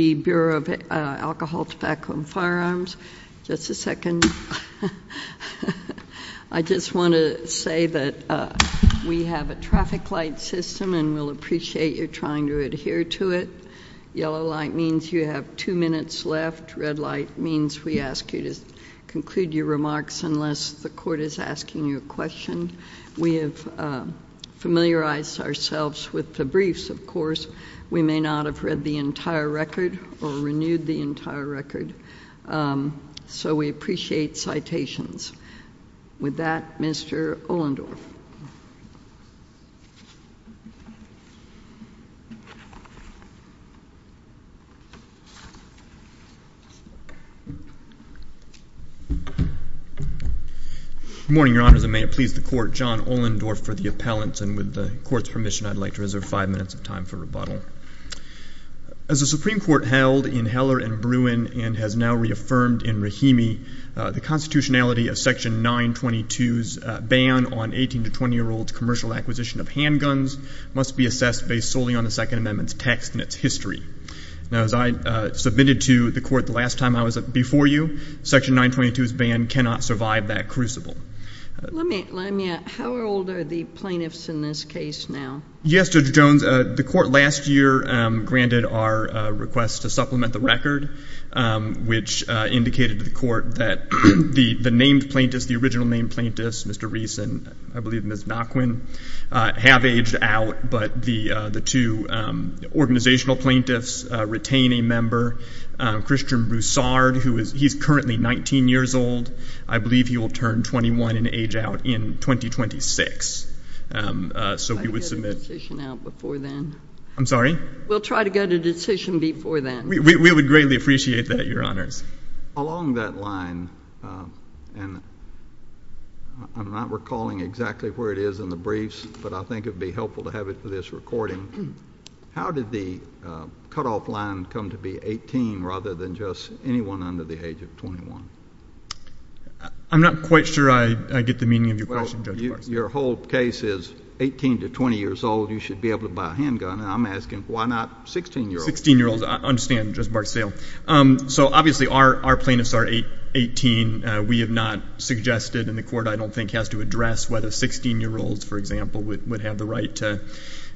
Tobacco and Firearms. Just a second. I just want to say that we have a traffic light system and we'll appreciate your trying to adhere to it. Yellow light means you have two minutes left. Red light means we ask you to conclude your remarks unless the court is asking you a question. We have familiarized ourselves with the briefs, of course. We may not have the entire record or renewed the entire record, so we appreciate citations. With that, Mr. Ohlendorf. Good morning, Your Honors, and may it please the Court, John Ohlendorf for the appellants, and with the Court's permission, I'd like to reserve five minutes of time for As the Supreme Court held in Heller and Bruin and has now reaffirmed in Rahimi, the constitutionality of Section 922's ban on 18 to 20-year-olds' commercial acquisition of handguns must be assessed based solely on the Second Amendment's text and its history. Now, as I submitted to the Court the last time I was before you, Section 922's ban cannot survive that crucible. Let me, let me, how old are the plaintiffs in this case now? Yes, Judge Jones, the Court last year granted our request to supplement the record, which indicated to the Court that the named plaintiffs, the original named plaintiffs, Mr. Reese and, I believe, Ms. Nachwin, have aged out, but the two organizational plaintiffs retain a member, Christian Broussard, who is, he's currently 19 years old. I believe he will turn 21 and age out in 2026. So we would submit. We'll try to get a decision out before then. I'm sorry? We'll try to get a decision before then. We, we, we would greatly appreciate that, Your Honors. Along that line, and I'm not recalling exactly where it is in the briefs, but I think it would be helpful to have it for this recording. How did the cutoff line come to be 18 rather than just anyone under the age of 21? I'm not quite sure I, I get the meaning of your question, Judge Barksdale. Well, your, your whole case is 18 to 20 years old. You should be able to buy a handgun, and I'm asking why not 16-year-olds? 16-year-olds, I understand, Judge Barksdale. So obviously our, our plaintiffs are 18. We have not suggested, and the Court, I don't think, has to address whether 16-year-olds, for example, would, would have the right to,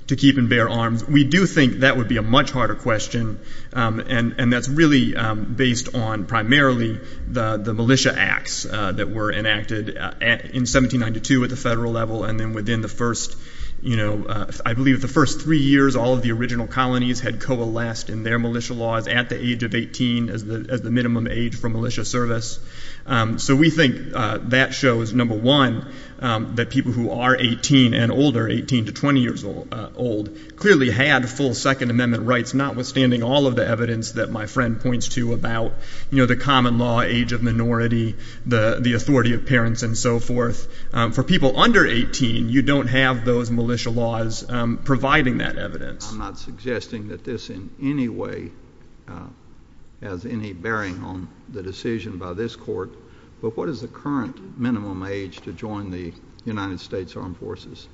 to keep and bear arms. We do think that would be a much harder question, and, and that's really based on primarily the, the militia acts that were enacted at, in 1792 at the federal level, and then within the first, you know, I believe the first three years all of the original colonies had coalesced in their militia laws at the age of 18 as the, as the minimum age for militia service. So we think that shows, number one, that people who are 18 and older, 18 to 20 years old, clearly had full Second Amendment rights, notwithstanding all of the evidence that my friend points to about, you know, the common law age of minority, the, the authority of parents and so forth. For people under 18, you don't have those militia laws providing that evidence. I'm not suggesting that this in any way has any bearing on the decision by this Court, but what is the current minimum age to join the United States Armed Forces?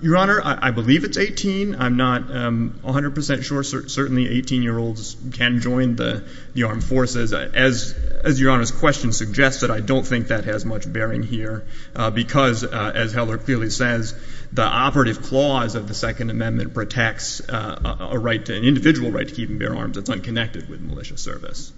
Your Honor, I, I believe it's 18. I'm not 100% sure. Certainly 18-year-olds can join the, the Armed Forces. As, as Your Honor's question suggests that I don't think that has much bearing here because, as Heller clearly says, the operative clause of the Second Amendment protects a, a right to, an individual right to keep and bear arms that's unconnected with militia service.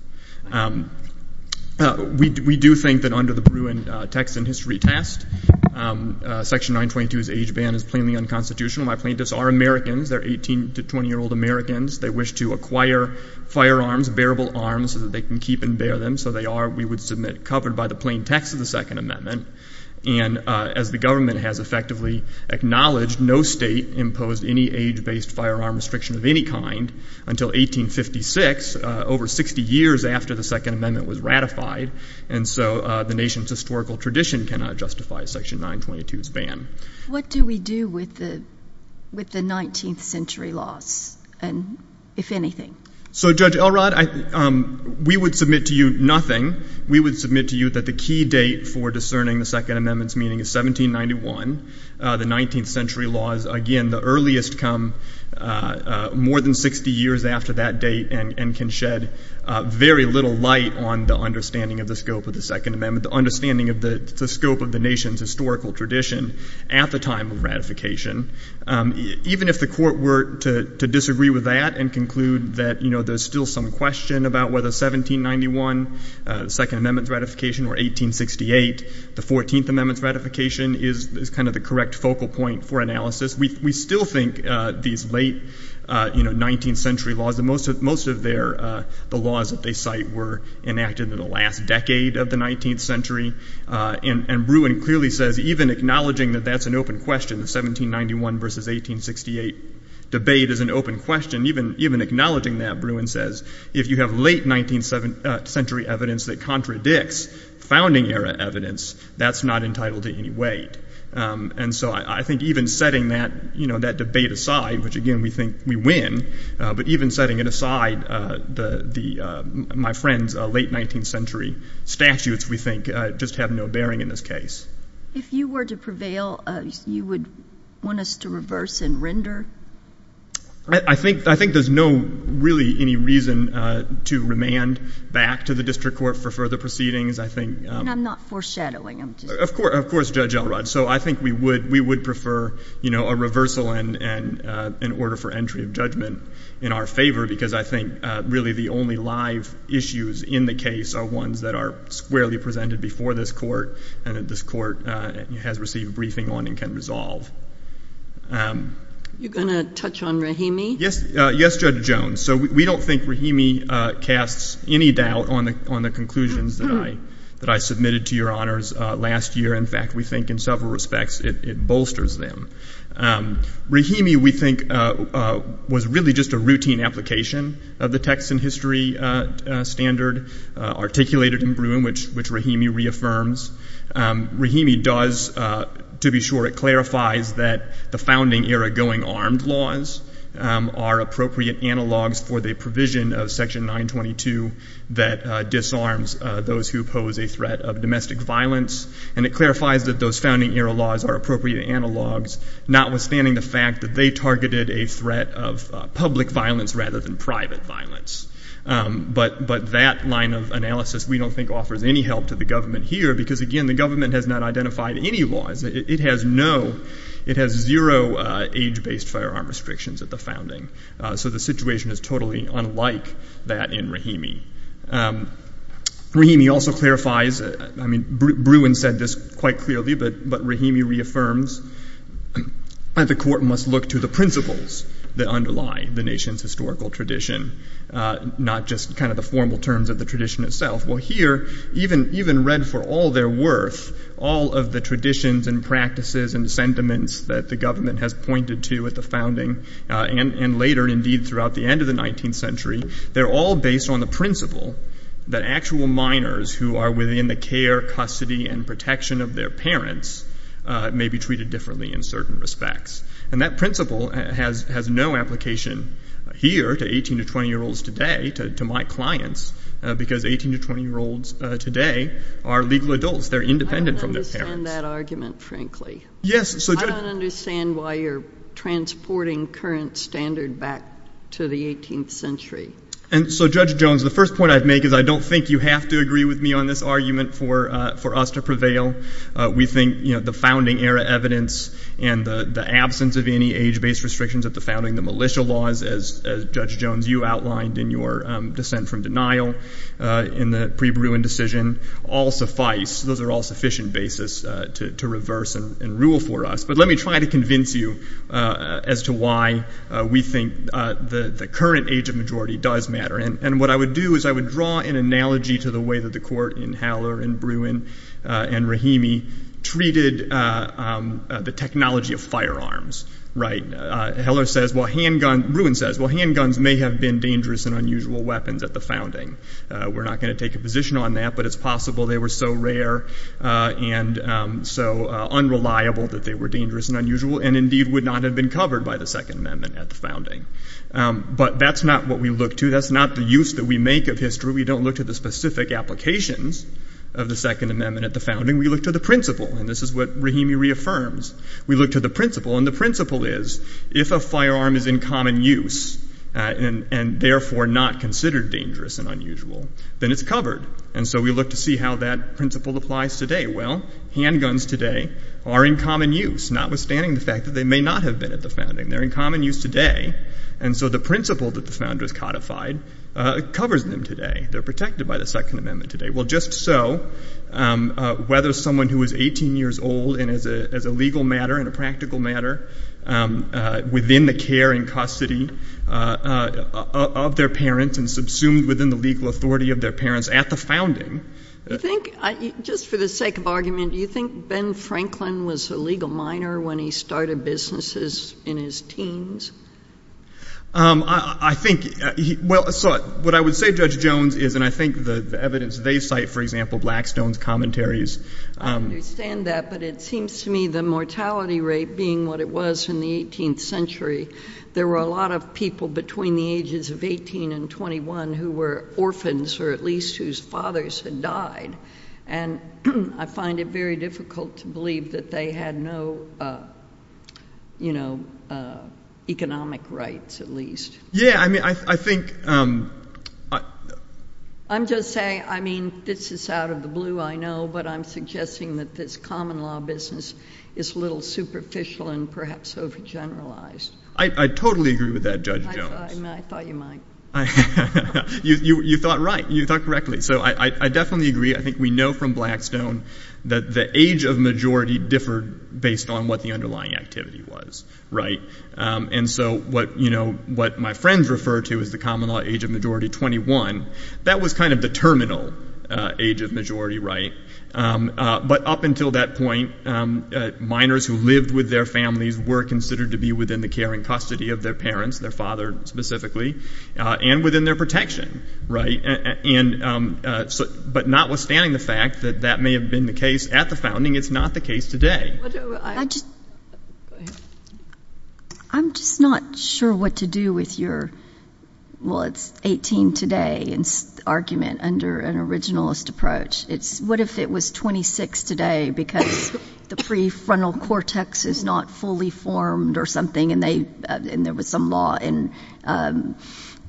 We, we do think that under the Bruin Text and History Test, Section 920 2's age ban is plainly unconstitutional. My plaintiffs are Americans. They're 18 to 20-year-old Americans. They wish to acquire firearms, bearable arms, so that they can keep and bear them. So they are, we would submit, covered by the plain text of the Second Amendment. And as the government has effectively acknowledged, no state imposed any age-based firearm restriction of any kind until 1856, over 60 years after the Second Amendment was ratified. And so the nation's historical tradition cannot justify Section 920 2's ban. What do we do with the, with the 19th century laws? And if anything? So Judge Elrod, I, we would submit to you nothing. We would submit to you that the key date for discerning the Second Amendment's meaning is 1791. The 19th century laws, again, the earliest come more than 60 years after that date and, and can shed very little light on the understanding of the scope of the Second Amendment, the understanding of the, the scope of the nation's historical tradition at the time of ratification. Even if the court were to, to disagree with that and conclude that, you know, there's still some question about whether 1791, the Second Amendment's ratification, or 1868, the 14th Amendment's ratification is, is kind of the correct focal point for analysis. We, we still think these late, you know, 19th century laws, most of, most of their, the laws that they cite were enacted in the last decade of the 19th century. And, and Bruin clearly says, even acknowledging that that's an open question, the 1791 versus 1868 debate is an open question, even, even acknowledging that, Bruin says, if you have late 19th century evidence that contradicts founding era evidence, that's not entitled to any weight. And so I, I think even setting that, you know, that debate aside, which again, we think we win, but even setting it aside, the, the, my friend's late 19th century statutes, we think, just have no bearing in this case. If you were to prevail, you would want us to reverse and render? I think, I think there's no, really, any reason to remand back to the district court for further proceedings. I think. And I'm not foreshadowing, I'm just. Of course, of course, Judge Elrod. So I think we would, we would prefer, you know, a reversal and, and an order for entry of judgment in our favor, because I think, really, the only live issues in the case are ones that are squarely presented before this court and that this court has received briefing on and can resolve. You're going to touch on Rahimi? Yes, yes, Judge Jones. So we don't think Rahimi casts any doubt on the, on the conclusions that I, that I submitted to your honors last year. In fact, we think, in several respects, it bolsters them. Rahimi, we think, was really just a routine application of the text and history standard articulated in Broome, which, which Rahimi reaffirms. Rahimi does, to be sure, it clarifies that the founding era going armed laws are appropriate analogs for the provision of Section 922 that disarms those who pose a threat of domestic violence. And it clarifies that those founding era laws are appropriate analogs, notwithstanding the fact that they targeted a threat of public violence rather than private violence. But, but that line of analysis, we don't think, offers any help to the government here, because, again, the government has not identified any laws. It has no, it has zero age-based firearm restrictions at the founding. So the situation is totally unlike that in Rahimi. Rahimi also clarifies, I mean, Broome said this quite clearly, but, but Rahimi reaffirms that the court must look to the principles that underlie the nation's historical tradition, not just kind of the formal terms of the tradition itself. Well, here, even, even read for all their worth, all of the traditions and practices and sentiments that the government has pointed to at the founding and, and later, indeed, throughout the end of the 19th century, they're all based on the principle that actual minors who are within the care, custody, and protection of their parents may be treated differently in certain respects. And that principle has, has no application here to 18 to 20-year-olds today, to, to my clients, because 18 to 20-year-olds today are legal adults. They're independent from their parents. I don't understand that argument, frankly. Yes. I don't understand why you're transporting current standard back to the 18th century. And so, Judge Jones, the first point I'd make is I don't think you have to agree with me on this argument for, for us to prevail. We think, you know, the founding era evidence and the, the absence of any age-based restrictions at the founding, the militia laws, as, as Judge Jones, you outlined in your dissent from denial in the re-Bruin decision, all suffice. Those are all sufficient basis to, to reverse and rule for us. But let me try to convince you as to why we think the, the current age of majority does matter. And, and what I would do is I would draw an analogy to the way that the court in Heller and Bruin and Rahimi treated the technology of firearms, right? Heller says, well, handgun, Bruin says, well, handguns may have been dangerous and unusual weapons at the founding. We're not going to take a position on that, but it's possible they were so rare and so unreliable that they were dangerous and unusual, and indeed would not have been covered by the Second Amendment at the founding. But that's not what we look to. That's not the use that we make of history. We don't look to the specific applications of the Second Amendment at the founding. We look to the principle, and this is what Rahimi reaffirms. We look to the principle, and the principle is, if a firearm is in common use and, and therefore not considered dangerous and unusual, then it's covered. And so we look to see how that principle applies today. Well, handguns today are in common use, notwithstanding the fact that they may not have been at the founding. They're in common use today, and so the principle that the founders codified covers them today. They're protected by the Second Amendment today. Well, just so, whether someone who is 18 years old and as a, as a child of, of their parents and subsumed within the legal authority of their parents at the founding. You think, just for the sake of argument, do you think Ben Franklin was a legal minor when he started businesses in his teens? I, I think he, well, so what I would say, Judge Jones, is, and I think the evidence they cite, for example, Blackstone's commentaries. I understand that, but it seems to me the mortality rate being what it was in the 18th century, there were a lot of people between the ages of 18 and 21 who were orphans or at least whose fathers had died. And I find it very difficult to believe that they had no, you know, economic rights, at least. Yeah, I mean, I, I think, I, I'm just saying, I mean, this is out of the blue, I know, but I'm suggesting that this common law was superficial and perhaps overgeneralized. I, I totally agree with that, Judge Jones. I thought, I mean, I thought you might. You, you, you thought right. You thought correctly. So I, I, I definitely agree. I think we know from Blackstone that the age of majority differed based on what the underlying activity was, right? And so what, you know, what my friends refer to as the common law age of majority 21, that was kind of the terminal age of majority right. But up until that point, minors who lived with their families were considered to be within the care and custody of their parents, their father specifically, and within their protection, right? And so, but notwithstanding the fact that that may have been the case at the founding, it's not the case today. I just, I'm just not sure what to do with your, well, it's 18 today and argument under an originalist approach. It's what if it was 26 today because the prefrontal cortex is not fully formed or something and they, and there was some law in, um,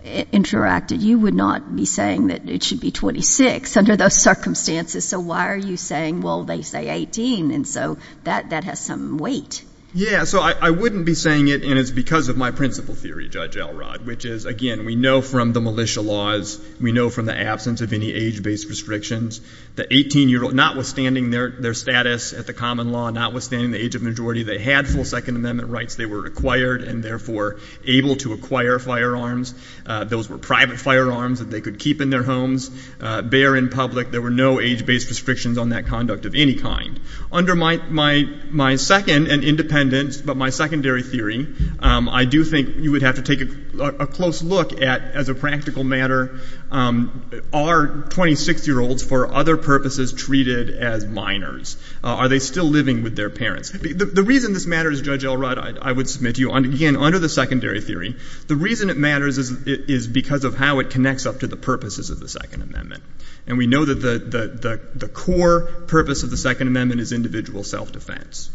interacted. You would not be saying that it should be 26 under those circumstances. So why are you saying, well, they say 18. And so that, that has some weight. Yeah. So I, I wouldn't be saying it and it's because of my principle theory, Judge Elrod, which is again, we know from the militia laws, we know from the absence of any age based restrictions, the 18 year old, notwithstanding their, their status at the common law, notwithstanding the age of majority, they had full second amendment rights. They were acquired and therefore able to acquire firearms. Uh, those were private firearms that they could keep in their homes, uh, bear in public. There were no age based restrictions on that conduct of any kind. Under my, my, my second and independence, but my secondary theory, um, I do think you would have to take a close look at as a practical matter, um, are 26 year olds for other purposes treated as minors? Uh, are they still living with their parents? The reason this matter is Judge Elrod, I would submit to you on, again, under the secondary theory, the reason it matters is, is because of how it connects up to the purposes of the second amendment. And we know that the, the, the, the core purpose of the second amendment is individual self defense.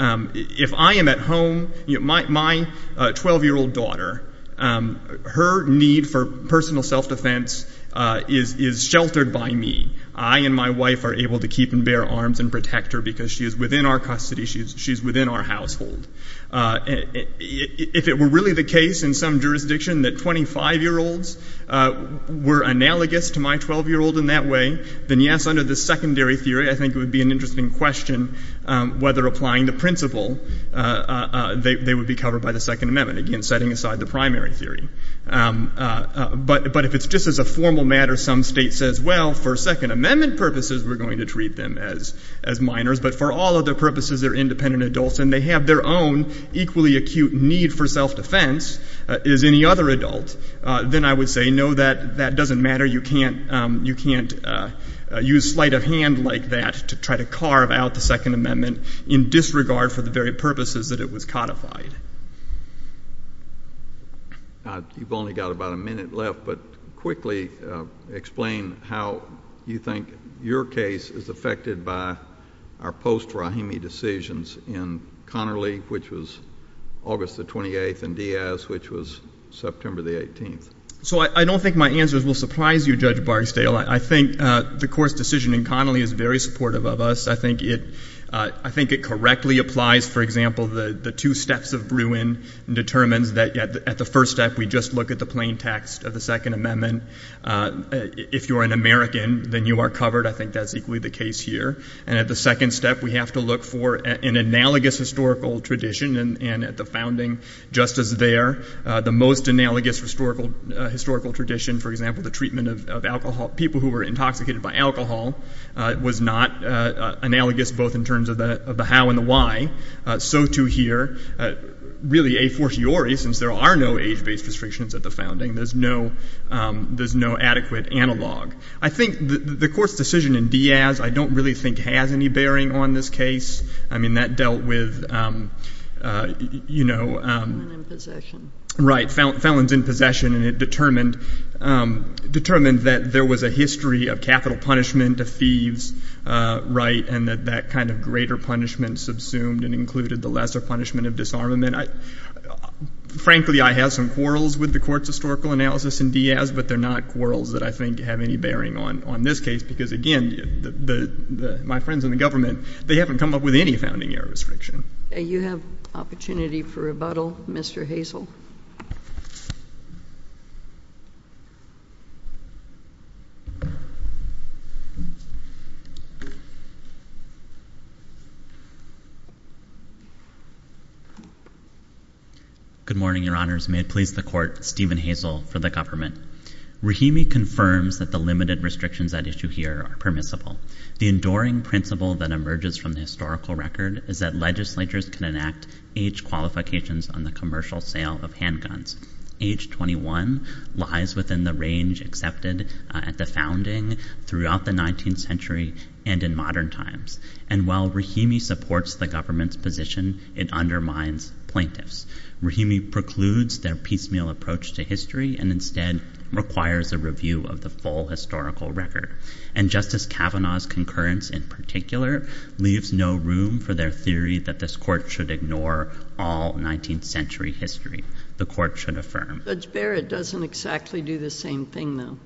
Um, if I am at home, you know, my, my, uh, 12 year old daughter, um, her need for personal self defense, uh, is, is sheltered by me. I and my wife are able to keep and bear arms and protect her because she is within our custody. She's, she's within our household. Uh, if, if it were really the case in some jurisdiction that 25 year olds, uh, were analogous to my 12 year old in that way, then yes, under the secondary theory, I think it would be an interesting question, um, whether applying the principle, uh, uh, uh, they, they would be covered by the second amendment. Again, setting aside the primary theory. Um, uh, uh, but, but if it's just as a formal matter, some state says, well, for second amendment purposes, we're going to treat them as, as minors, but for all other purposes, they're independent adults and they have their own equally acute need for self defense, uh, as any other adult. Uh, then I would say, no, that, that doesn't matter. You can't, um, you can't, uh, uh, use sleight of hand like that to try to carve out the second amendment in disregard for the very purposes that it was codified. Uh, you've only got about a minute left, but quickly, uh, explain how you think your case is affected by our post Rahimi decisions in Connerly, which was August the 28th and Diaz, which was September the 18th. So I don't think my answers will surprise you, Judge Barksdale. I think, uh, the court's decision in Connerly is very supportive of us. I think it, uh, I think it correctly applies. For example, the, the two steps of Bruin determines that at the first step, we just look at the plain text of the second amendment. Uh, if you're an American, then you are covered. I think that's equally the case here. And at the second step, we have to look for an analogous historical tradition and, and at the founding justice there, uh, the most analogous historical, uh, historical tradition, for example, the treatment of alcohol, people who were intoxicated by alcohol, uh, was not, uh, uh, analogous both in terms of the, of the how and the why. Uh, so to here, uh, really a fortiori, since there are no age-based restrictions at the founding, there's no, um, there's no adequate analog. I think the, the court's decision in Diaz, I don't really think has any bearing on this case. I mean, that dealt with, um, uh, you know, um, right. Felons in possession and it determined, um, determined that there was a history of capital punishment of thieves, uh, right. And that that kind of greater punishment subsumed and included the lesser punishment of disarmament. I, frankly, I have some quarrels with the court's historical analysis in Diaz, but they're not quarrels that I think have any bearing on, on this case. Because again, the, the, the, my friends in the government, they haven't come up with any founding year restriction. You have opportunity for rebuttal, Mr. Hazel. Good morning, your honors. May it please the court, Steven Hazel for the government. Rahimi confirms that the limited restrictions at issue here are permissible. The enduring principle that emerges from the historical record is that legislatures can enact age qualifications on the commercial sale of handguns. Age 21 lies within the range accepted at the founding throughout the 19th century and in modern times. And while Rahimi supports the government's position, it undermines plaintiffs. Rahimi precludes their piecemeal approach to history and instead requires a review of the full historical record. And Justice Kavanaugh's concurrence in particular leaves no room for their theory that this court should ignore all 19th century history. The court should affirm. Judge Barrett doesn't exactly do the same thing though.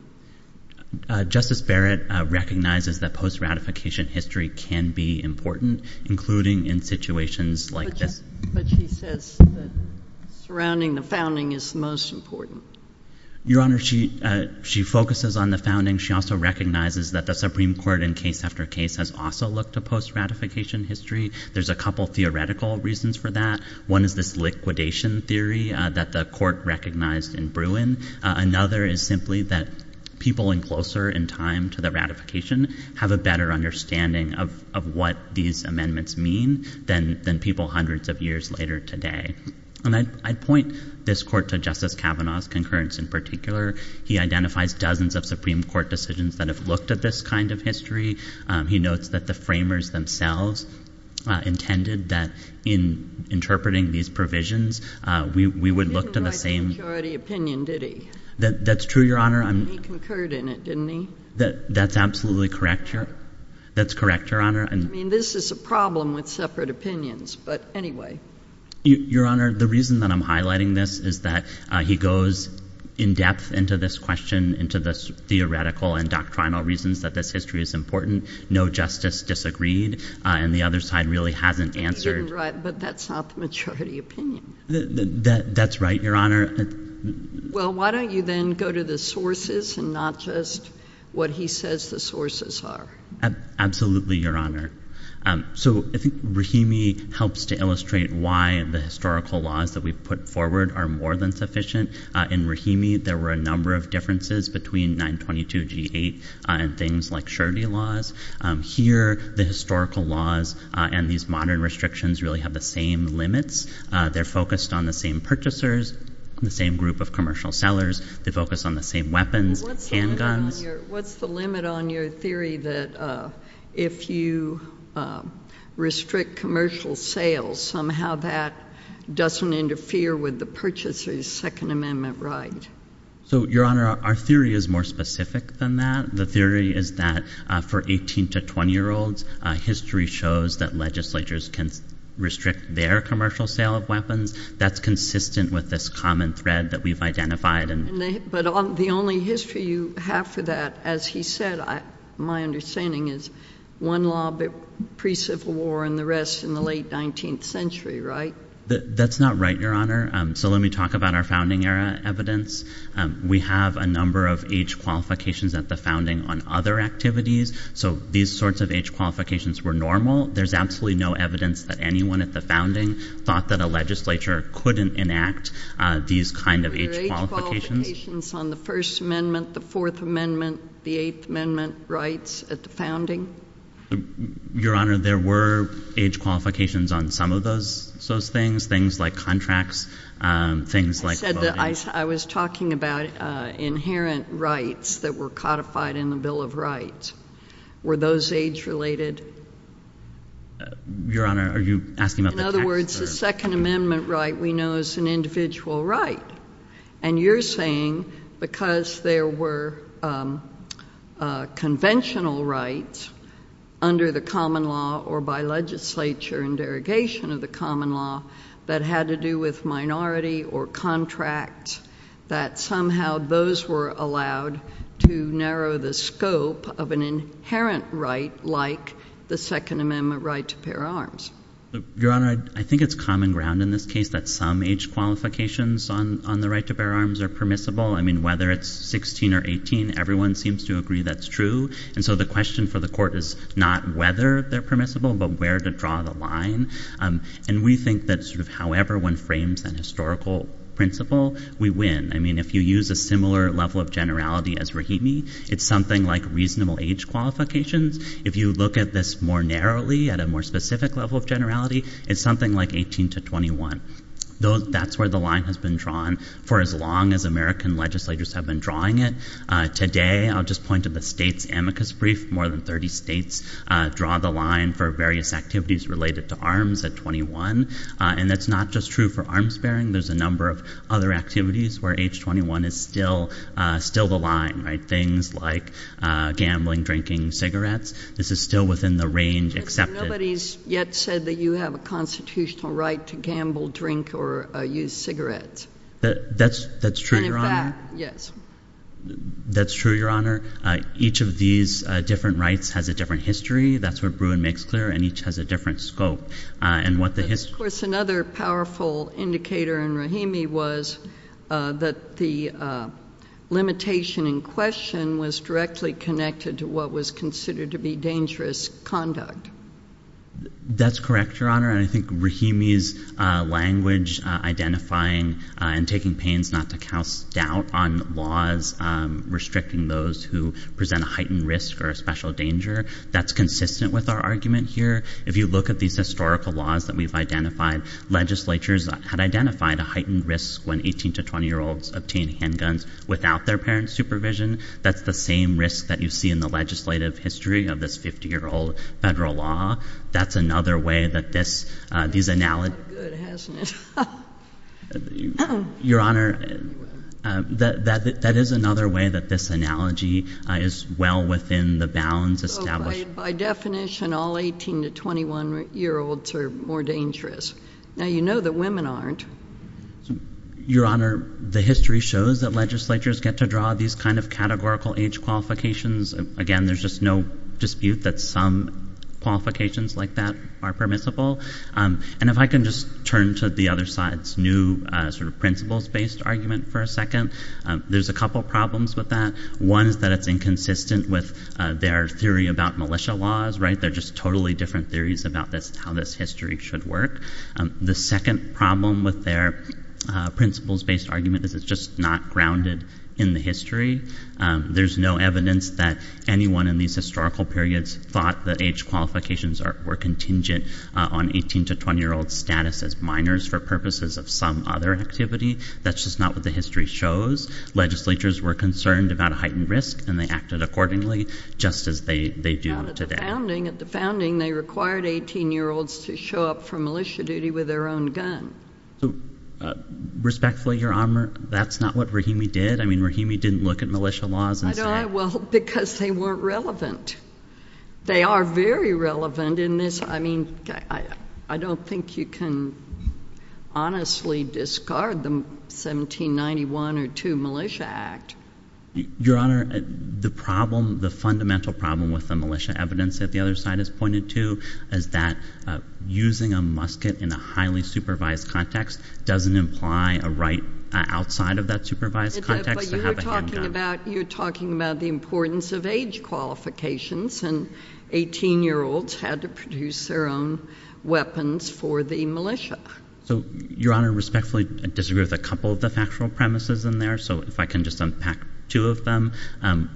Justice Barrett recognizes that post-ratification history can be important, including in situations like this. But she says that surrounding the founding is most important. Your honor, she focuses on the founding. She also recognizes that the Supreme Court in case after case has also looked to post-ratification history. There's a couple of theoretical reasons for that. One is this liquidation theory that the court recognized in Bruin. Another is simply that people in closer in time to the ratification have a better understanding of what these amendments mean than people hundreds of years later today. And I'd point this court to Justice Kavanaugh's concurrence in particular. He identifies dozens of Supreme Court decisions that have looked at this kind of history. He notes that the framers themselves intended that in interpreting these provisions, we would look to the same. He didn't write the majority opinion, did he? That's true, your honor. He concurred in it, didn't he? That's absolutely correct, your honor. That's correct, your honor. I mean, this is a problem with separate opinions, but anyway. Your honor, the reason that I'm highlighting this is that he goes in depth into this question, into the theoretical and doctrinal reasons that this history is important. No justice disagreed, and the other side really hasn't answered. He didn't write, but that's not the majority opinion. That's right, your honor. Well, why don't you then go to the sources and not just what he says the sources are? Absolutely, your honor. So I think Rahimi helps to illustrate why the historical laws that we've put forward are more than sufficient. In Rahimi, there were a number of differences between 922G8 and things like surety laws. Here the historical laws and these modern restrictions really have the same limits. They're focused on the same purchasers, the same group of commercial sellers. They focus on the same weapons, handguns. What's the limit on your theory that if you restrict commercial sales, somehow that doesn't interfere with the purchaser's Second Amendment right? So your honor, our theory is more specific than that. The theory is that for 18 to 20 year olds, history shows that legislatures can restrict their commercial sale of weapons. That's consistent with this common thread that we've identified. But the only history you have for that, as he said, my understanding is one law pre-Civil War and the rest in the late 19th century, right? That's not right, your honor. So let me talk about our founding era evidence. We have a number of age qualifications at the founding on other activities. So these sorts of age qualifications were normal. There's absolutely no evidence that anyone at the legislature couldn't enact these kind of age qualifications on the First Amendment, the Fourth Amendment, the Eighth Amendment rights at the founding. Your honor, there were age qualifications on some of those, those things, things like contracts, things like that. I was talking about inherent rights that were codified in the Bill of Rights. Were those age related? Your honor, are you asking about the other words? The Second Amendment right we know is an individual right. And you're saying because there were conventional rights under the common law or by legislature and derogation of the common law that had to do with minority or contract, that somehow those were allowed to narrow the scope of an inherent right like the Second Amendment right to bear arms. Your honor, I think it's common ground in this case that some age qualifications on the right to bear arms are permissible. I mean, whether it's 16 or 18, everyone seems to agree that's true. And so the question for the court is not whether they're permissible, but where to draw the line. And we think that sort of however one frames that historical principle, we win. I mean, if you use a similar level of generality as Rahimi, it's something like reasonable age qualifications. If you look at this more narrowly at a more specific level of generality, it's something like 18 to 21. That's where the line has been drawn for as long as American legislators have been drawing it. Today, I'll just point to the state's amicus brief. More than 30 states draw the line for various activities related to arms at 21. And that's not just true for arms bearing. There's a number of other activities where age 21 is still the line, right? Things like gambling, drinking, cigarettes. This is still within the range accepted. Nobody's yet said that you have a constitutional right to gamble, drink, or use cigarettes. That's true, Your Honor. And in fact, yes. That's true, Your Honor. Each of these different rights has a different history. That's what Bruin makes clear. And each has a different scope. And what the history... Of course, another powerful indicator in Rahimi was that the limitation in question was directly connected to what was considered to be dangerous conduct. That's correct, Your Honor. And I think Rahimi's language identifying and taking pains not to cast doubt on laws restricting those who present a heightened risk or a special danger, that's consistent with our argument here. If you look at these historical laws that we've identified, legislatures had identified a heightened risk when 18 to 20-year-olds obtain handguns without their parents' supervision. That's the same risk that you see in the federal law. That's another way that this... That's not good, hasn't it? Your Honor, that is another way that this analogy is well within the bounds established... By definition, all 18 to 21-year-olds are more dangerous. Now, you know that women aren't. Your Honor, the history shows that legislatures get to draw these kind of categorical age qualifications. Again, there's just no dispute that some qualifications like that are permissible. And if I can just turn to the other side's new sort of principles-based argument for a second, there's a couple problems with that. One is that it's inconsistent with their theory about militia laws, right? They're just totally different theories about this, how this history should work. The second problem with their principles-based argument is it's just not grounded in the history. There's no evidence that anyone in these historical periods thought that age qualifications were contingent on 18 to 20-year-old status as minors for purposes of some other activity. That's just not what the history shows. Legislatures were concerned about heightened risk, and they acted accordingly, just as they do today. At the founding, they required 18-year-olds to show up for militia duty with their own gun. So respectfully, Your Honor, that's not what Rahimi did. I mean, Rahimi didn't look at militia laws and say- I don't know. Well, because they weren't relevant. They are very relevant in this. I mean, I don't think you can honestly discard the 1791 or 1792 Militia Act. Your Honor, the problem, the fundamental problem with the militia evidence that the other side has pointed to is that using a musket in a highly supervised context doesn't imply a right outside of that supervised context to have a handgun. You're talking about the importance of age qualifications, and 18-year-olds had to produce their own weapons for the militia. So, Your Honor, respectfully, I disagree with a couple of the factual premises in there, so if I can just unpack two of them.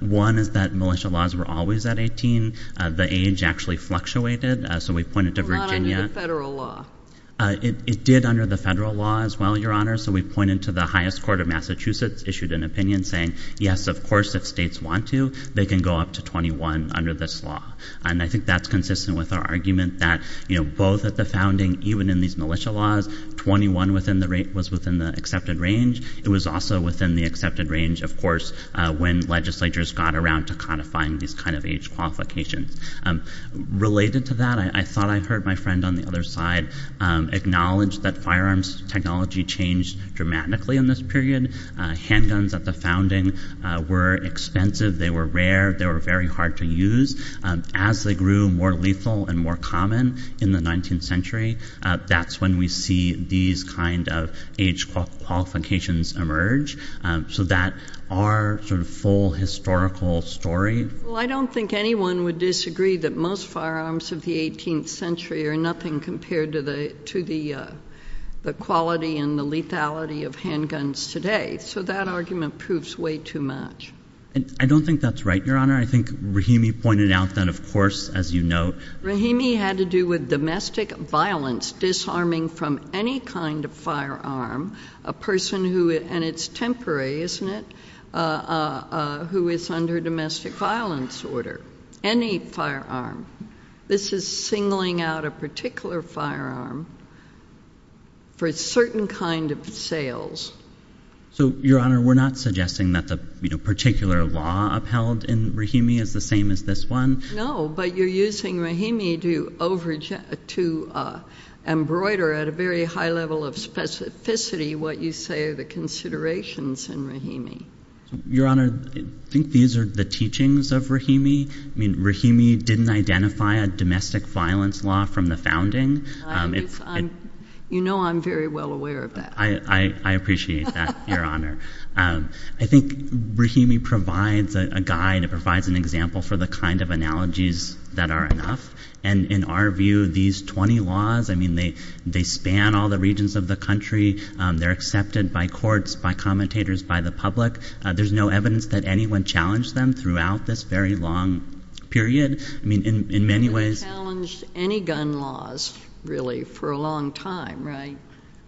One is that militia laws were always at 18. The age actually fluctuated, so we pointed to Virginia- Not under the federal law. It did under the federal law as well, Your Honor. So we pointed to the highest court of Massachusetts issued an opinion saying, yes, of course, if states want to, they can go up to 21 under this law. And I think that's consistent with our argument that both at the founding, even in these militia laws, 21 was within the accepted range. It was also within the accepted range, of course, when legislatures got around to codifying these kind of age qualifications. Related to that, I thought I heard my friend on the other side acknowledge that firearms technology changed dramatically in this period. Handguns at the founding were expensive. They were rare. They were very hard to use. As they grew more lethal and more common in the 19th century, that's when we see these kind of age qualifications emerge. So that our full historical story- Well, I don't think anyone would disagree that most firearms of the 18th century are nothing compared to the quality and the lethality of handguns today. So that argument proves way too much. I don't think that's right, Your Honor. I think Rahimi pointed out that, of course, as you note- Rahimi had to do with domestic violence disarming from any kind of firearm a person who, and it's temporary, isn't it, who is under domestic violence order. Any firearm. This is singling out a particular firearm for a certain kind of sales. So, Your Honor, we're not suggesting that the particular law upheld in Rahimi is the same as this one. No, but you're using Rahimi to embroider at a very high level of specificity what you say are the considerations in Rahimi. Your Honor, I think these are the teachings of Rahimi. I mean, Rahimi didn't identify a domestic violence law from the founding. You know I'm very well aware of that. I appreciate that, Your Honor. I think Rahimi provides a guide. It provides an example for the kind of analogies that are enough. And in our view, these 20 laws, I mean, they span all the regions of the country. They're accepted by courts, by commentators, by the public. There's no evidence that anyone challenged them throughout this very long period. I mean, in many ways- You haven't challenged any gun laws, really, for a long time, right?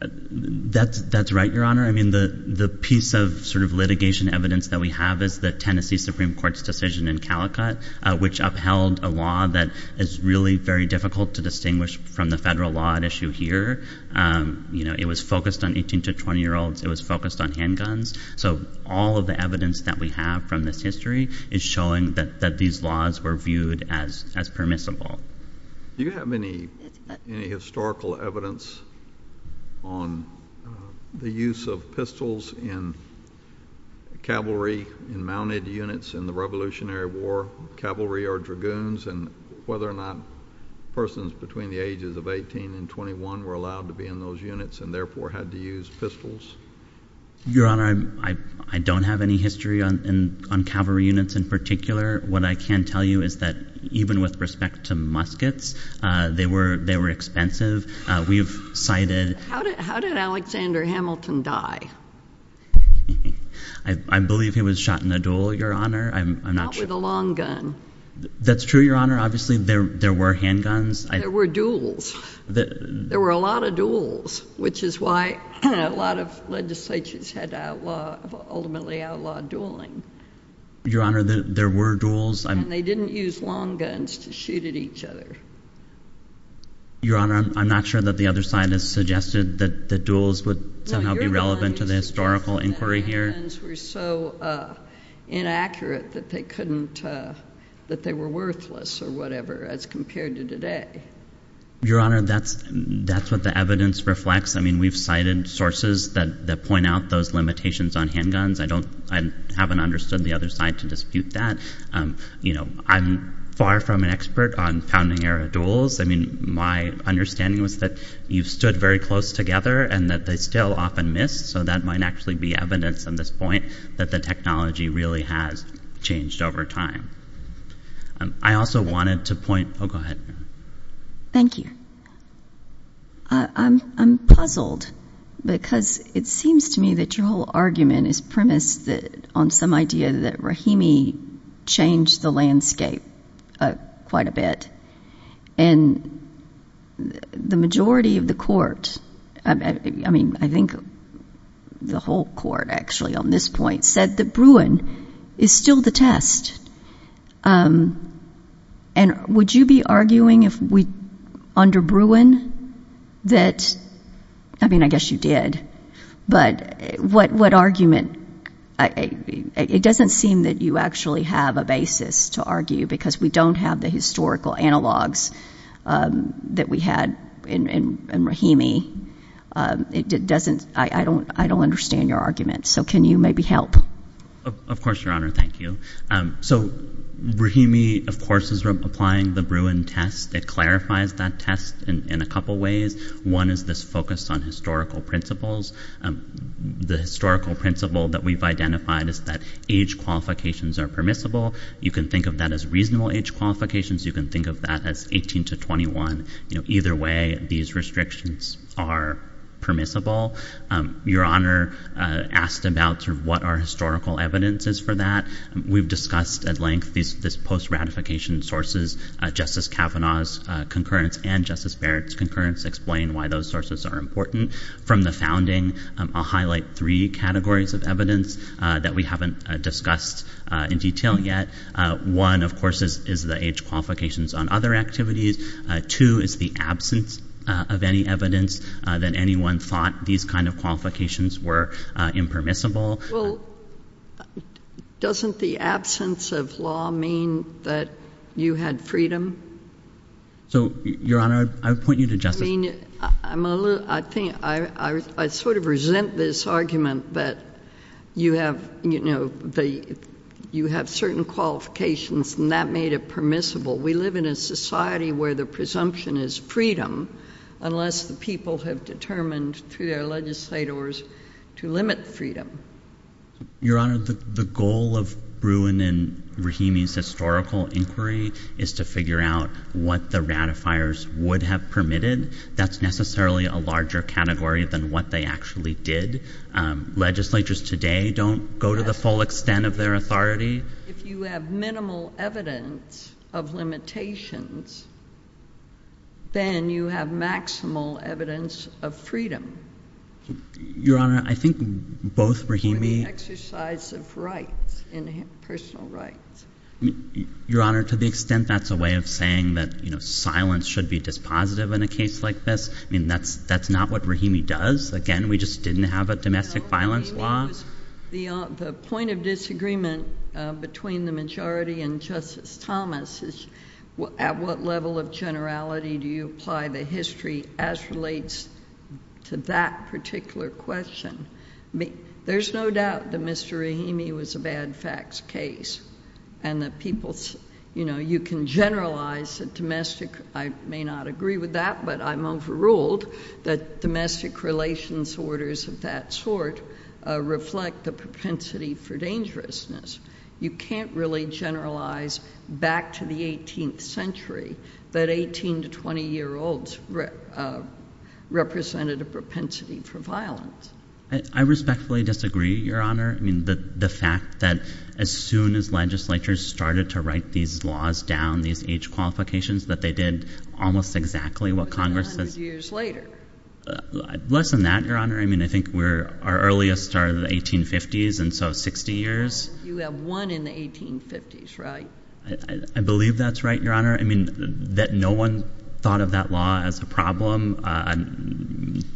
That's right, Your Honor. I mean, the piece of sort of litigation evidence that we have is the Tennessee Supreme Court's in Calicut, which upheld a law that is really very difficult to distinguish from the federal law at issue here. You know, it was focused on 18 to 20-year-olds. It was focused on handguns. So all of the evidence that we have from this history is showing that these laws were viewed as permissible. Do you have any historical evidence on the use of pistols in cavalry, in mounted units in the Revolutionary War, cavalry or dragoons, and whether or not persons between the ages of 18 and 21 were allowed to be in those units and therefore had to use pistols? Your Honor, I don't have any history on cavalry units in particular. What I can tell you is that even with respect to muskets, they were expensive. We've cited- How did Alexander Hamilton die? I believe he was shot in a duel, Your Honor. Not with a long gun. That's true, Your Honor. Obviously, there were handguns. There were duels. There were a lot of duels, which is why a lot of legislatures had to ultimately outlaw dueling. Your Honor, there were duels. And they didn't use long guns to shoot at each other. Your Honor, I'm not sure that the other side has suggested that the duels would somehow be relevant to the historical inquiry here. The guns were so inaccurate that they couldn't- that they were worthless or whatever as compared to today. Your Honor, that's what the evidence reflects. I mean, we've cited sources that point out those limitations on handguns. I don't- I haven't understood the other side to dispute that. I'm far from an expert on era duels. I mean, my understanding was that you've stood very close together and that they still often miss. So that might actually be evidence at this point that the technology really has changed over time. I also wanted to point- Oh, go ahead. Thank you. I'm puzzled because it seems to me that your whole argument is premised on some idea that Rahimi changed the landscape quite a bit. And the majority of the court- I mean, I think the whole court, actually, on this point said that Bruin is still the test. And would you be arguing if we- under Bruin that- I mean, I guess you did. But what argument- it doesn't seem that you actually have a basis to argue because we don't have the historical analogs that we had in Rahimi. It doesn't- I don't understand your argument. So can you maybe help? Of course, Your Honor. Thank you. So Rahimi, of course, is applying the Bruin test that clarifies that test in a couple ways. One is this focus on historical principles. The historical principle that we've identified is that age qualifications are permissible. You can think of that as reasonable age qualifications. You can think of that as 18 to 21. Either way, these restrictions are permissible. Your Honor asked about what our historical evidence is for that. We've discussed at length these post-ratification sources. Justice Kavanaugh's concurrence and Justice Barrett's concurrence explain why those sources are important. From the founding, I'll highlight three categories of evidence that we haven't discussed in detail yet. One, of course, is the age qualifications on other activities. Two is the absence of any evidence that anyone thought these kind of qualifications were impermissible. Well, doesn't the absence of law mean that you had freedom? So, Your Honor, I would point you to Justice- I mean, I'm a little- I sort of resent this argument that you have certain qualifications and that made it permissible. We live in a society where the presumption is freedom unless the people have determined through their legislators to limit freedom. Your Honor, the goal of Bruin and Rahimi's historical inquiry is to figure out what the ratifiers would have permitted. That's necessarily a larger category than what they actually did. Legislatures today don't go to the full extent of their authority. If you have minimal evidence of limitations, then you have maximal evidence of freedom. Your Honor, I think both Rahimi- For the exercise of rights, personal rights. Your Honor, to the extent that's a way of saying that, you know, silence should be dispositive in a case like this. I mean, that's not what Rahimi does. Again, we just didn't have a domestic violence law. The point of disagreement between the majority and Justice Thomas is at what level of generality do you apply the history as relates to that particular question. I mean, there's no doubt that Mr. Rahimi was a bad facts case and that people's, you know, you can generalize domestic. I may not agree with that, but I'm overruled that domestic relations orders of that sort reflect the propensity for dangerousness. You can't really generalize back to the 18th century that 18 to 20 year olds represented a propensity for violence. I respectfully disagree, Your Honor. I mean, the fact that as soon as legislatures started to write these laws down, these age qualifications, that they did almost exactly what Congress does. Less than that, Your Honor. I mean, I think we're, our earliest started in the 1850s and so 60 years. You have one in the 1850s, right? I believe that's right, Your Honor. I mean, that no one thought of that law as a problem.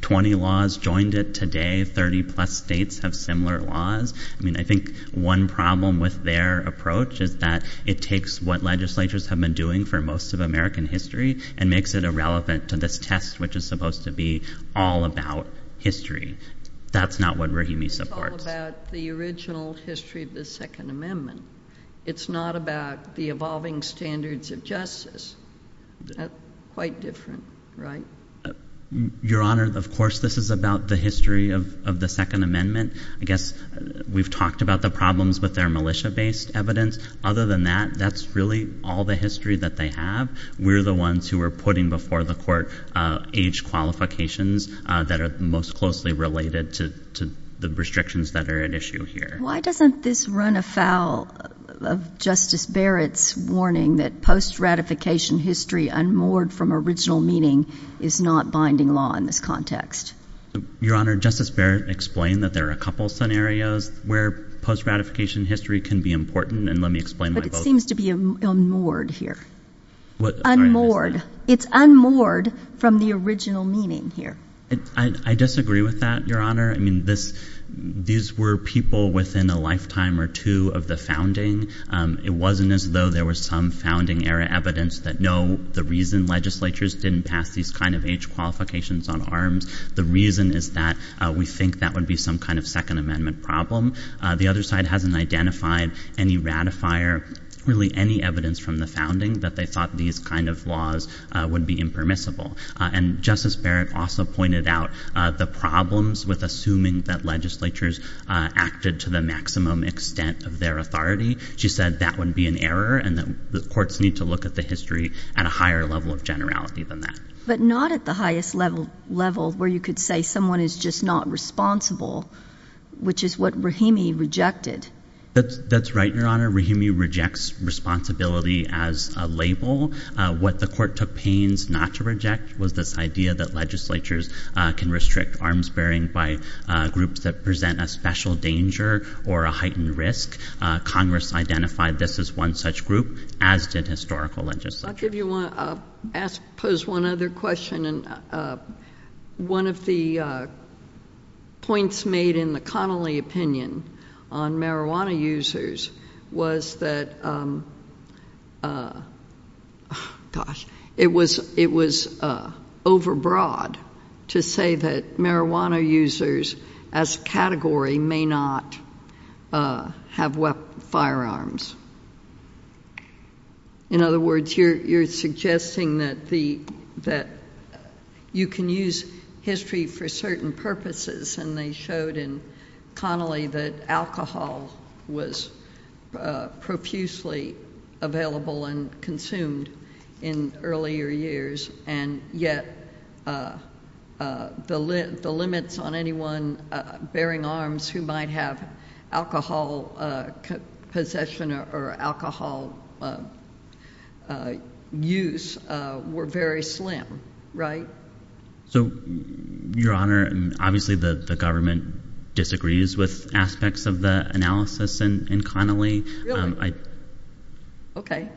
20 laws joined it today. 30 plus states have similar laws. I mean, I think one problem with their approach is that it takes what legislatures have been doing for most of American history and makes it irrelevant to this test, which is supposed to be all about history. That's not what Rahimi supports. It's all about the original history of the Second Amendment. It's not about the evolving standards of justice. Quite different, right? Your Honor, of course, this is about the history of the Second Amendment. I guess we've talked about the problems with their militia-based evidence. Other than that, that's really all the history that they have. We're the ones who are putting before the court age qualifications that are most closely related to the restrictions that are at issue here. Why doesn't this run afoul of Justice Barrett's warning that post-ratification history unmoored from original meaning is not binding law in this context? Your Honor, Justice Barrett explained that there are a couple scenarios where post-ratification history can be important, and let me explain. But it seems to be unmoored here. Unmoored. It's unmoored from the original meaning here. I disagree with that, Your Honor. I mean, these were people within a lifetime or two of the founding. It wasn't as though there was some founding era evidence that, no, the reason legislatures didn't pass these kind of age qualifications on arms, the reason is that we think that would be some kind of Second Amendment problem. The other side hasn't identified any ratifier, really any evidence from the founding that they thought these kind of laws would be impermissible. And Justice Barrett also pointed out the problems with assuming that legislatures acted to the maximum extent of their authority. She said that would be an error and that the courts need to look at the history at a higher level of generality than that. But not at the highest level where you could say someone is just not responsible, which is what Rahimi rejected. That's right, Your Honor. Rahimi rejects responsibility as a label. What the court took pains not to reject was this idea that legislatures can restrict arms bearing by groups that present a special danger or a heightened risk. Congress identified this as group as did historical legislature. I'll pose one other question. One of the points made in the Connolly opinion on marijuana users was that, gosh, it was overbroad to say that marijuana users as category may not have firearms. In other words, you're suggesting that you can use history for certain purposes, and they showed in Connolly that alcohol was profusely available and consumed in earlier years, and yet the limits on anyone bearing arms who might have alcohol possession or alcohol use were very slim, right? So, Your Honor, obviously the government disagrees with aspects of the analysis in Connolly. Really? Okay.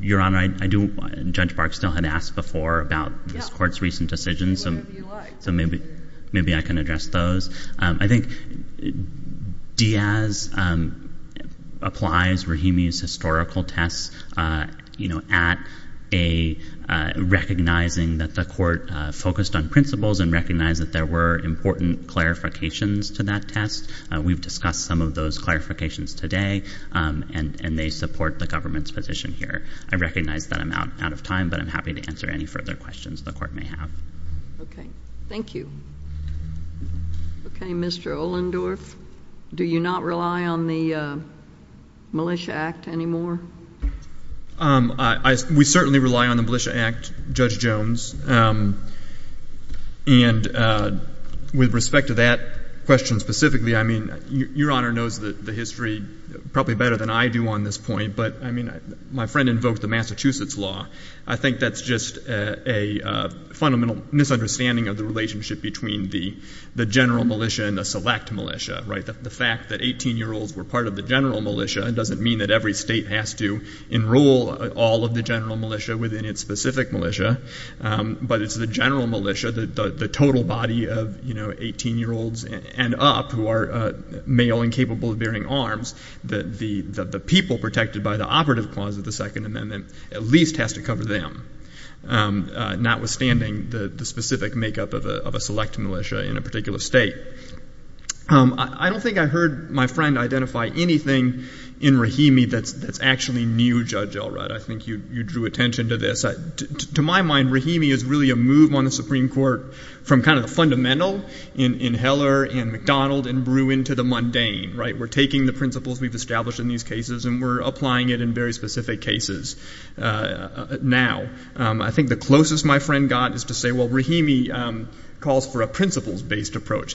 Your Honor, Judge Bark still had asked before about this court's recent decisions, so maybe I can address those. I think Diaz applies Rahimi's historical tests at recognizing that the court focused on principles and recognized that there were important clarifications to that test. We've discussed some of those clarifications today, and they support the government's position here. I recognize that I'm out of time, but I'm happy to answer any further questions the court may have. Okay. Thank you. Okay, Mr. Ohlendorf, do you not rely on the Militia Act anymore? We certainly rely on the Militia Act, Judge Jones, and with respect to that question specifically, I mean, Your Honor knows the history probably better than I do on this point, but I my friend invoked the Massachusetts law. I think that's just a fundamental misunderstanding of the relationship between the general militia and the select militia, right? The fact that 18-year-olds were part of the general militia doesn't mean that every state has to enroll all of the general militia within its specific militia, but it's the general militia, the total body of 18-year-olds and up who are male and capable of bearing arms, that the people protected by the operative clause of the Second Amendment at least has to cover them, notwithstanding the specific makeup of a select militia in a particular state. I don't think I heard my friend identify anything in Rahimi that's actually new, Judge Elrod. I think you drew attention to this. To my mind, Rahimi is really a move on the Supreme Court from kind of the fundamental in Heller and McDonald and Bruin to the mundane, right? We're taking the principles we've established in these cases and we're applying it in very specific cases now. I think the closest my friend got is to say, well, Rahimi calls for a principles-based approach.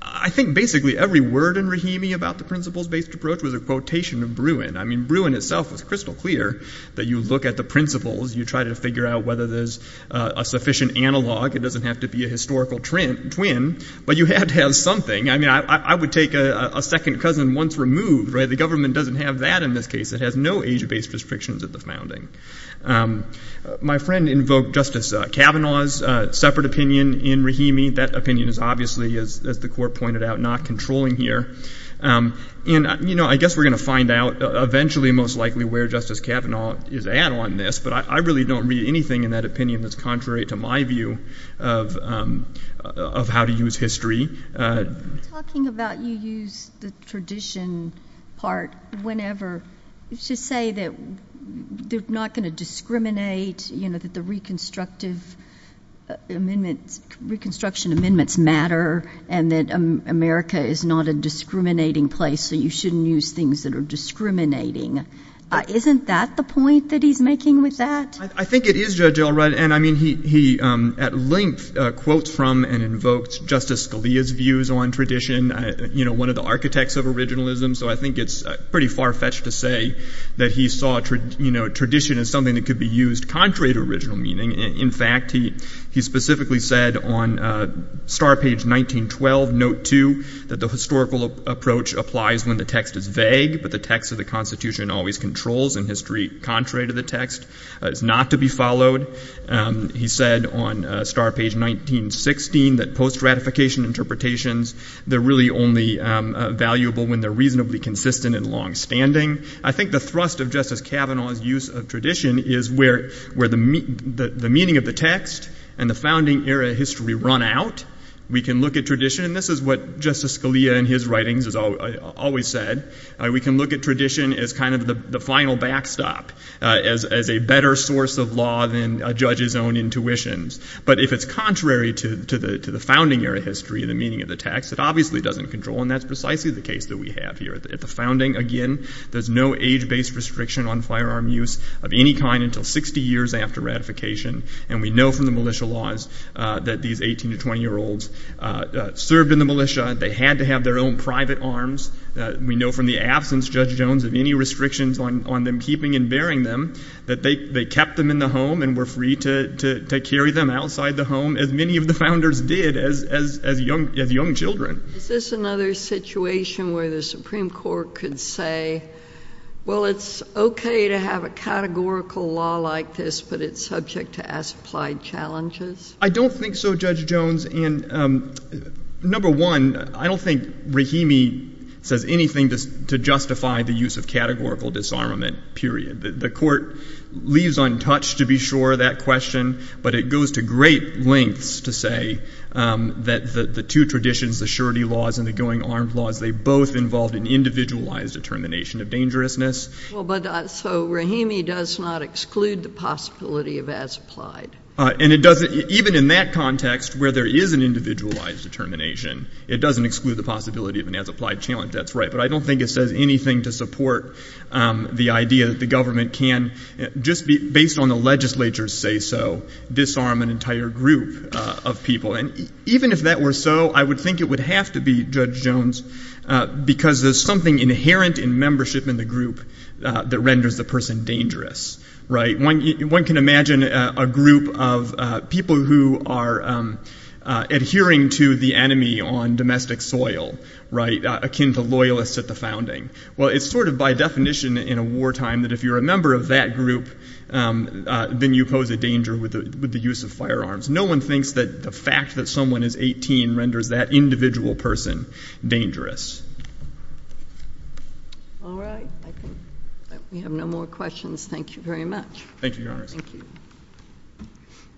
I think basically every word in Rahimi about the principles-based approach was a quotation of Bruin. I mean, Bruin itself was crystal clear that you look at the principles, you try to figure out whether there's a sufficient analog. It doesn't have to be a historical twin, but you have to have something. I mean, I would take a second cousin once removed, right? The government doesn't have that in this case. It has no age-based restrictions at the founding. My friend invoked Justice Kavanaugh's separate opinion in Rahimi. That opinion is obviously, as the Court pointed out, not controlling here. And, you know, I guess we're going to find out eventually most likely where Justice Kavanaugh is at on this, but I really don't read anything in that opinion that's contrary to my view of how to use history. Talking about you use the tradition part whenever, you should say that they're not going to discriminate, you know, that the reconstructive amendments, reconstruction amendments matter, and that America is not a discriminating place, so you shouldn't use things that are discriminating. Isn't that the point that he's making with that? I think it is, Judge Elrod. And, I mean, he at length quotes from and invokes Justice Scalia's views on tradition, you know, one of the architects of originalism. So I think it's pretty far-fetched to say that he saw, you know, tradition as something that could be used contrary to original meaning. In fact, he specifically said on star page 1912, note 2, that the historical approach applies when the text is vague, but the text of the Constitution always controls, and history, contrary to the text, is not to be followed. He said on star page 1916, that post-ratification interpretations, they're really only valuable when they're reasonably consistent and long-standing. I think the thrust of Justice Kavanaugh's use of tradition is where the meaning of the text and the founding era history run out. We can look at tradition, and this is what Justice Scalia in his writings has always said, we can look at tradition as kind of the final backstop, as a better source of law than a judge's own intuitions. But if it's contrary to the founding era history and the meaning of the text, it obviously doesn't control, and that's precisely the case that we have here. At the founding, again, there's no age-based restriction on firearm use of any kind until 60 years after ratification, and we know from the militia, they had to have their own private arms. We know from the absence, Judge Jones, of any restrictions on them keeping and bearing them, that they kept them in the home and were free to carry them outside the home, as many of the founders did as young children. Is this another situation where the Supreme Court could say, well, it's okay to have a categorical law like this, but it's subject to as applied challenges? I don't think so, Judge Jones, and number one, I don't think Rahimi says anything to justify the use of categorical disarmament, period. The court leaves untouched, to be sure, that question, but it goes to great lengths to say that the two traditions, the surety laws and the going armed laws, they both involved an individualized determination of dangerousness. Well, but so Rahimi does not exclude the possibility of as applied. And it doesn't, even in that context, where there is an individualized determination, it doesn't exclude the possibility of an as applied challenge, that's right, but I don't think it says anything to support the idea that the government can, just based on the legislature's say-so, disarm an entire group of people. And even if that were so, I would think it would have to be, Judge Jones, because there's something inherent in membership in the group that renders the person dangerous, right? One can imagine a group of people who are adhering to the enemy on domestic soil, right, akin to loyalists at the founding. Well, it's sort of by definition in a wartime that if you're a member of that group, then you pose a danger with the use of firearms. No one thinks that the fact that someone is 18 renders that individual person dangerous. All right, I think that we have no more questions. Thank you very much. Thank you, Your Honor. Thank you.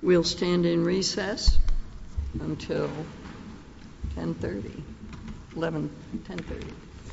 We'll stand in recess until 10.30, 11, 10.30.